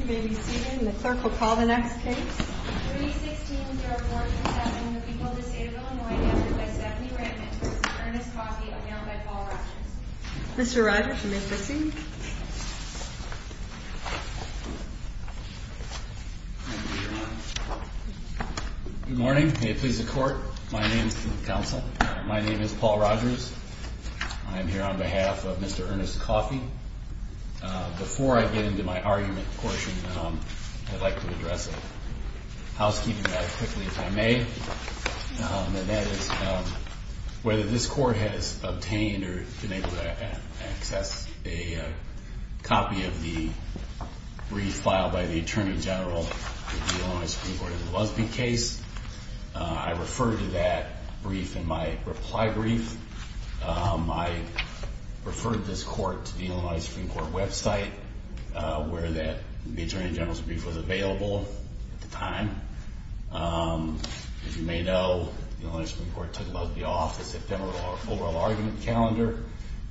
You may be seated, and the clerk will call the next case. 316-047, the people of the state of Illinois, answered by Stephanie Rankin, Mr. Ernest Coffey, announced by Paul Rogers. Mr. Rogers, you may proceed. Good morning. May it please the Court, my name is Paul Rogers. I am here on behalf of Mr. Ernest Coffey. Before I get into my argument portion, I'd like to address a housekeeping matter quickly, if I may. And that is whether this Court has obtained or been able to access a copy of the brief filed by the Attorney General of the Illinois Supreme Court in the Luskin case. I referred to that brief in my reply brief. I referred this Court to the Illinois Supreme Court website, where the Attorney General's brief was available at the time. As you may know, the Illinois Supreme Court took Lusby off the September 4 argument calendar,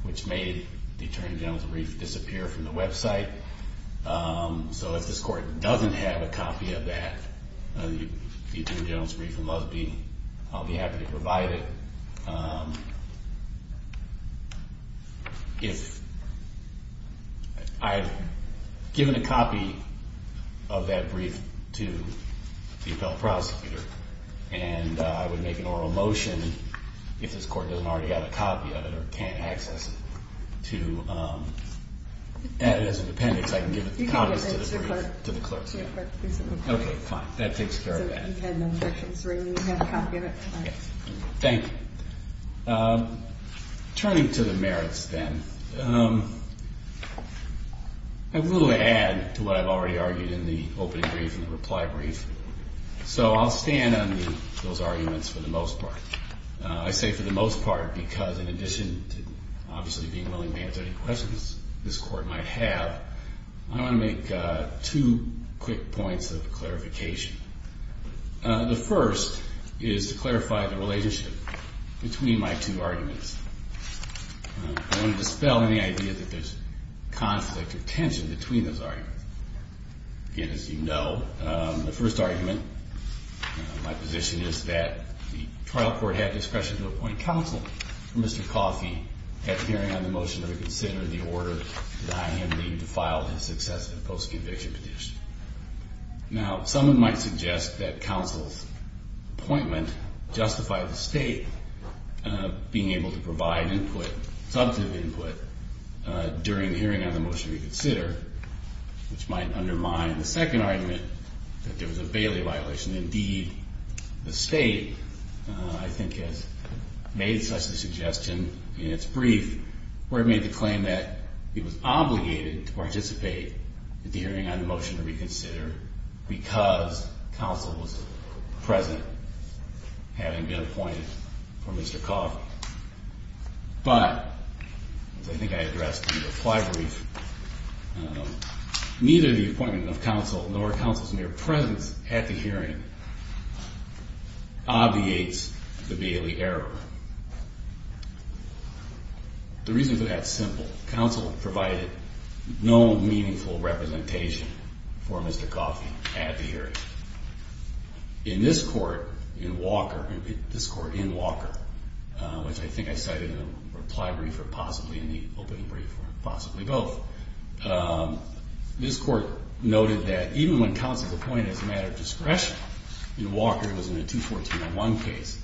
which made the Attorney General's brief disappear from the website. So if this Court doesn't have a copy of that Attorney General's brief in Lusby, I'll be happy to provide it. If I've given a copy of that brief to the appellate prosecutor, and I would make an oral motion, if this Court doesn't already have a copy of it or can't access it, to add it as an appendix, I can give copies to the brief to the clerks. Okay, fine. That takes care of that. Thank you. Turning to the merits, then. I will add to what I've already argued in the opening brief and the reply brief. So I'll stand on those arguments for the most part. I say for the most part because in addition to obviously being willing to answer any questions this Court might have, I want to make two quick points of clarification. The first is to clarify the relationship between my two arguments. I want to dispel any idea that there's conflict or tension between those arguments. Again, as you know, the first argument, my position is that the trial court had discretion to appoint counsel for Mr. Coffey at hearing on the motion to reconsider the order that I have named to file his successive post-conviction petition. Now, someone might suggest that counsel's appointment justified the State being able to provide input, substantive input, during the hearing on the motion to reconsider, which might undermine the second argument, that there was a Bailey violation. Indeed, the State, I think, has made such a suggestion in its brief where it made the claim that it was obligated to participate at the hearing on the motion to reconsider because counsel was present, having been appointed for Mr. Coffey. But, as I think I addressed in the reply brief, neither the appointment of counsel nor counsel's mere presence at the hearing obviates the Bailey error. The reason for that is simple. Counsel provided no meaningful representation for Mr. Coffey at the hearing. In this court, in Walker, this court in Walker, which I think I cited in the reply brief or possibly in the opening brief or possibly both, this court noted that even when counsel is appointed as a matter of discretion, in Walker it was in a 214-1 case,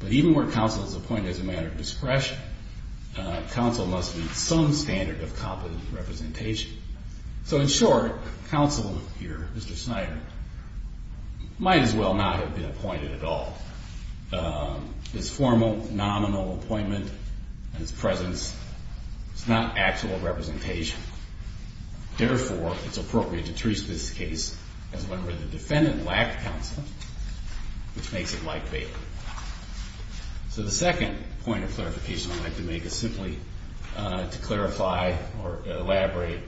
but even where counsel is appointed as a matter of discretion, counsel must meet some standard of competent representation. So, in short, counsel here, Mr. Snyder, might as well not have been appointed at all. His formal, nominal appointment and his presence is not actual representation. Therefore, it's appropriate to treat this case as one where the defendant lacked counsel, which makes it like Bailey. So the second point of clarification I'd like to make is simply to clarify or elaborate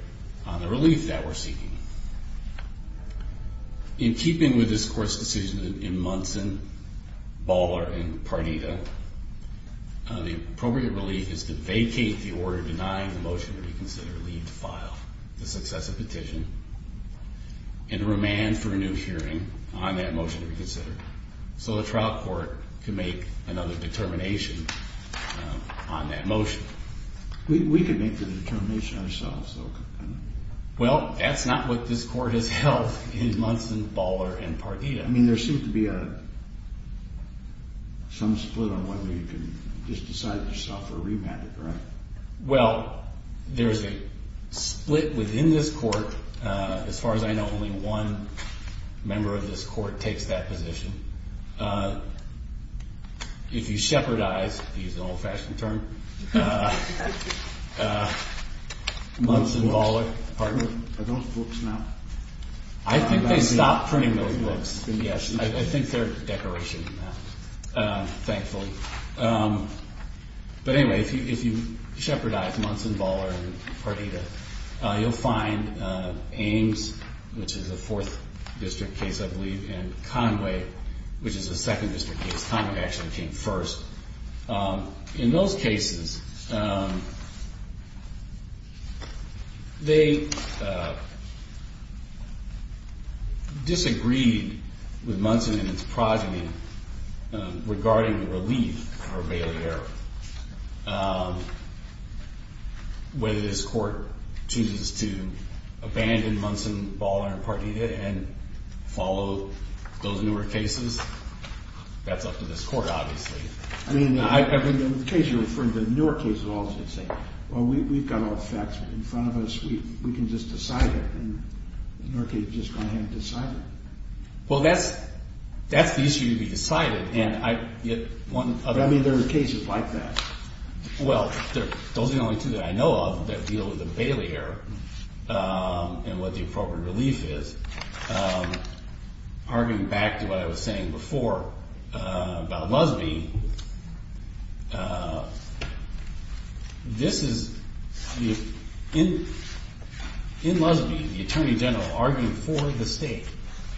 on the relief that we're seeking. In keeping with this court's decision in Munson, Baller, and Parnita, the appropriate relief is to vacate the order denying the motion to reconsider, leave to file the successive petition, and to remand for a new hearing on that motion to reconsider. So the trial court can make another determination on that motion. We could make the determination ourselves, though. Well, that's not what this court has held in Munson, Baller, and Parnita. I mean, there seems to be some split on whether you can just decide yourself or remand it, right? Well, there's a split within this court. As far as I know, only one member of this court takes that position. If you shepherdize, to use an old-fashioned term, Munson, Baller, Parnita. Are those books now? I think they stopped printing those books, yes. I think they're decoration now, thankfully. But anyway, if you shepherdize Munson, Baller, and Parnita, you'll find Ames, which is a Fourth District case, I believe, and Conway, which is a Second District case. Conway actually came first. In those cases, they disagreed with Munson and its progeny regarding the relief for Bailey Arrow. Whether this court chooses to abandon Munson, Baller, and Parnita and follow those newer cases, that's up to this court, obviously. The case you're referring to, the newer case, is all the same. Well, we've got all the facts in front of us. We can just decide it, and the newer case is just going to have to decide it. Well, that's the issue to be decided. I mean, there are cases like that. Well, those are the only two that I know of that deal with the Bailey Arrow and what the appropriate relief is. Arguing back to what I was saying before about Lusby, in Lusby, the Attorney General, arguing for the state,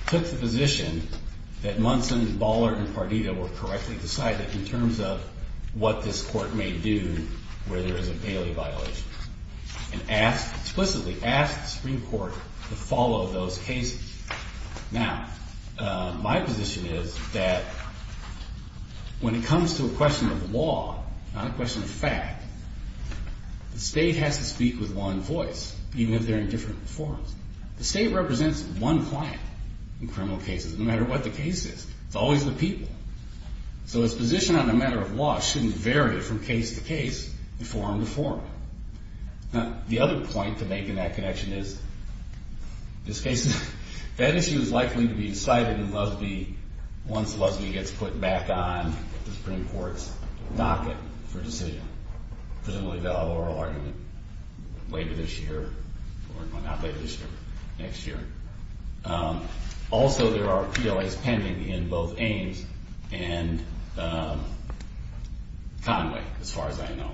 took the position that Munson, Baller, and Parnita were correctly decided in terms of what this court may do where there is a Bailey violation and explicitly asked the Supreme Court to follow those cases. Now, my position is that when it comes to a question of law, not a question of fact, the state has to speak with one voice, even if they're in different forums. The state represents one client in criminal cases, no matter what the case is. It's always the people. So its position on a matter of law shouldn't vary from case to case, from forum to forum. Now, the other point to make in that connection is, in this case, that issue is likely to be decided in Lusby once Lusby gets put back on the Supreme Court's docket for decision, presumably the oral argument later this year, or not later this year, next year. Also, there are PLAs pending in both Ames and Conway, as far as I know.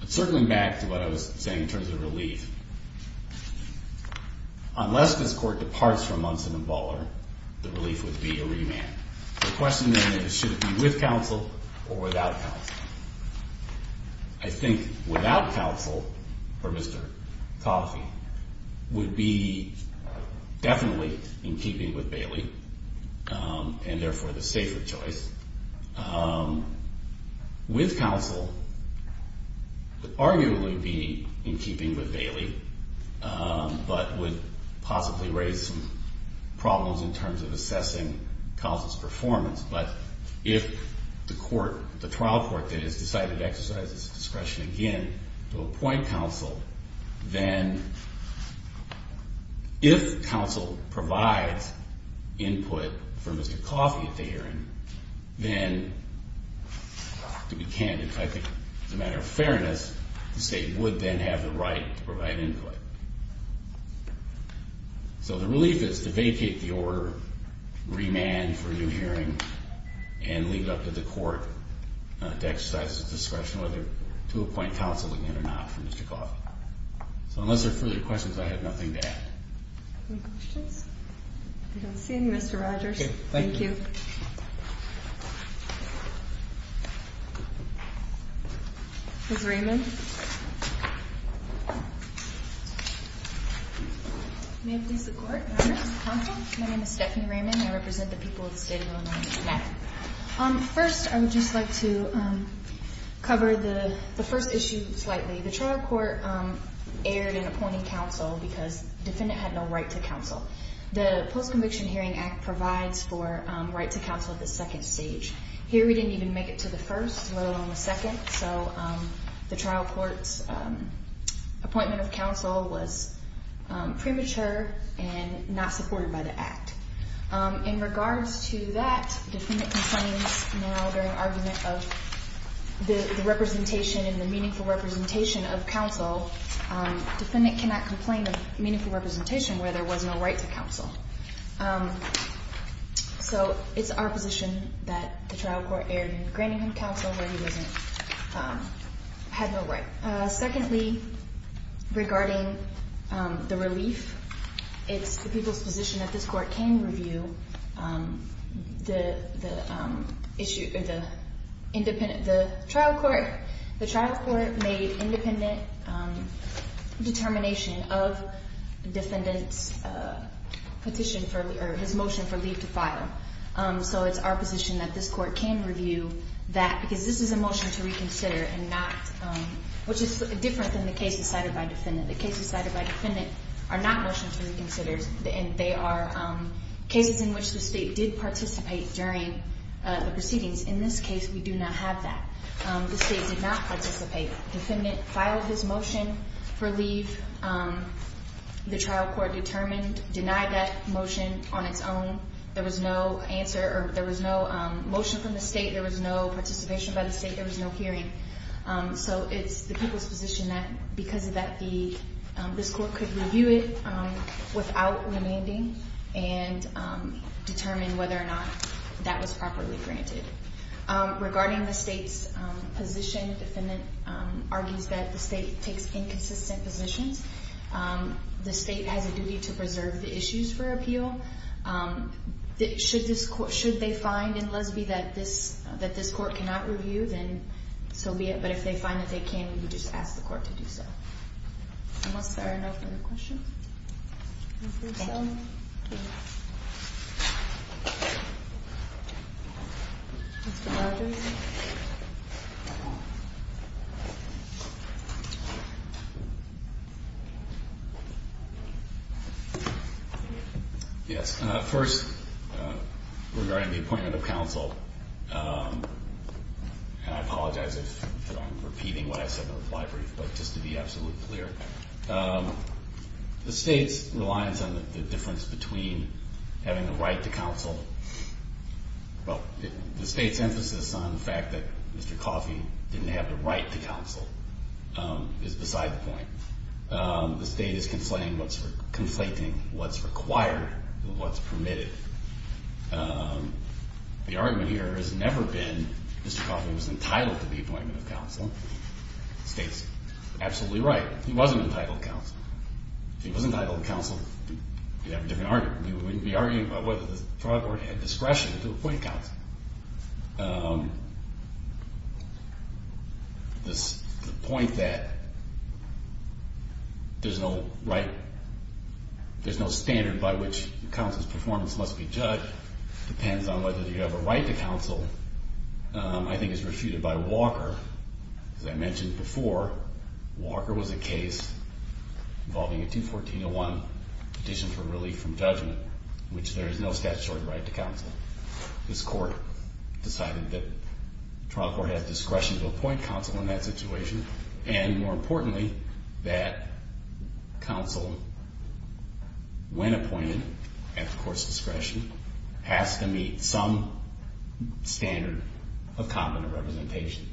But circling back to what I was saying in terms of relief, unless this court departs from Munson and Baller, the relief would be a remand. The question then is, should it be with counsel or without counsel? I think without counsel for Mr. Coffey would be definitely in keeping with Bailey, and therefore the safer choice. With counsel, it would arguably be in keeping with Bailey, but would possibly raise some problems in terms of assessing counsel's performance. But if the trial court that has decided to exercise its discretion again to appoint counsel, then if counsel provides input for Mr. Coffey at the hearing, then to be candid, I think as a matter of fairness, the state would then have the right to provide input. So the relief is to vacate the order, remand for a new hearing, and leave it up to the court to exercise its discretion whether to appoint counsel again or not for Mr. Coffey. So unless there are further questions, I have nothing to add. Any questions? I don't see any, Mr. Rogers. Thank you. Ms. Raymond? May it please the Court, Your Honor. Counsel, my name is Stephanie Raymond. I represent the people of the state of Illinois in this matter. First, I would just like to cover the first issue slightly. The trial court erred in appointing counsel because the defendant had no right to counsel. The Post-Conviction Hearing Act provides for right to counsel at the second stage. Here we didn't even make it to the first, let alone the second. So the trial court's appointment of counsel was premature and not supported by the Act. In regards to that, defendant complains now during argument of the representation and the meaningful representation of counsel. Defendant cannot complain of meaningful representation where there was no right to counsel. So it's our position that the trial court erred in granting him counsel where he had no right. Secondly, regarding the relief, it's the people's position that this court can review the trial court. The trial court made independent determination of defendant's petition or his motion for leave to file. So it's our position that this court can review that because this is a motion to reconsider which is different than the case decided by defendant. The cases decided by defendant are not motions to reconsider. They are cases in which the state did participate during the proceedings. In this case, we do not have that. The state did not participate. Defendant filed his motion for leave. The trial court determined, denied that motion on its own. There was no answer or there was no motion from the state. There was no participation by the state. There was no hearing. So it's the people's position that because of that, this court could review it without demanding and determine whether or not that was properly granted. Regarding the state's position, defendant argues that the state takes inconsistent positions. The state has a duty to preserve the issues for appeal. Should they find in Lesbie that this court cannot review, then so be it. But if they find that they can, we just ask the court to do so. Unless there are no further questions. Thank you. Mr. Rogers? Yes. First, regarding the appointment of counsel, and I apologize if I'm repeating what I said in the fly brief, but just to be absolutely clear, the state's reliance on the difference between having the right to counsel, well, the state's emphasis on the fact that Mr. Coffey didn't have the right to counsel is beside the point. The state is conflating what's required and what's permitted. The argument here has never been Mr. Coffey was entitled to the appointment of counsel. The state's absolutely right. He wasn't entitled to counsel. If he was entitled to counsel, we'd have a different argument. We'd be arguing about whether the trial court had discretion to appoint counsel. The point that there's no standard by which counsel's performance must be judged depends on whether you have a right to counsel I think is refuted by Walker. As I mentioned before, Walker was a case involving a 214-01 petition for relief from judgment, in which there is no statutory right to counsel. This court decided that the trial court had discretion to appoint counsel in that situation, and more importantly, that counsel, when appointed at the court's discretion, has to meet some standard of competent representation.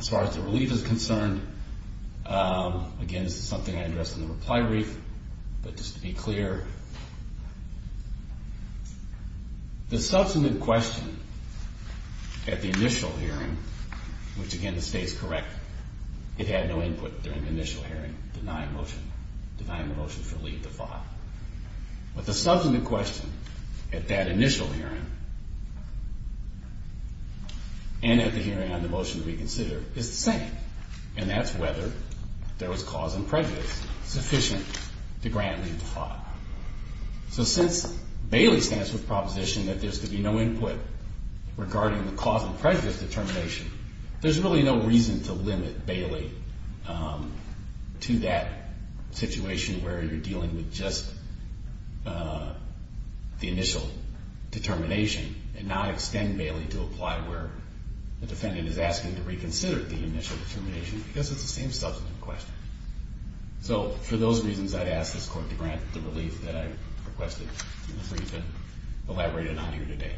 As far as the relief is concerned, again, this is something I addressed in the reply brief, but just to be clear, the subsequent question at the initial hearing, which again the state is correct, it had no input during the initial hearing denying the motion for relief to file. But the subsequent question at that initial hearing and at the hearing on the motion we consider is the same, and that's whether there was cause and prejudice sufficient to grant relief to file. So since Bailey stands with the proposition that there's to be no input regarding the cause and prejudice determination, there's really no reason to limit Bailey to that situation where you're dealing with just the initial determination and not extend Bailey to apply where the defendant is asking to reconsider the initial determination because it's the same subsequent question. So for those reasons, I'd ask this court to grant the relief that I requested in the brief and elaborate it on here today.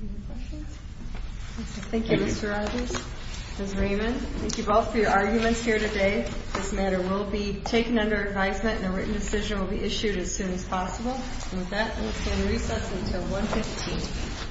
Any questions? Thank you, Mr. Rogers. Ms. Raymond, thank you both for your arguments here today. This matter will be taken under advisement, and a written decision will be issued as soon as possible. And with that, I will stand recess until 1 p.m.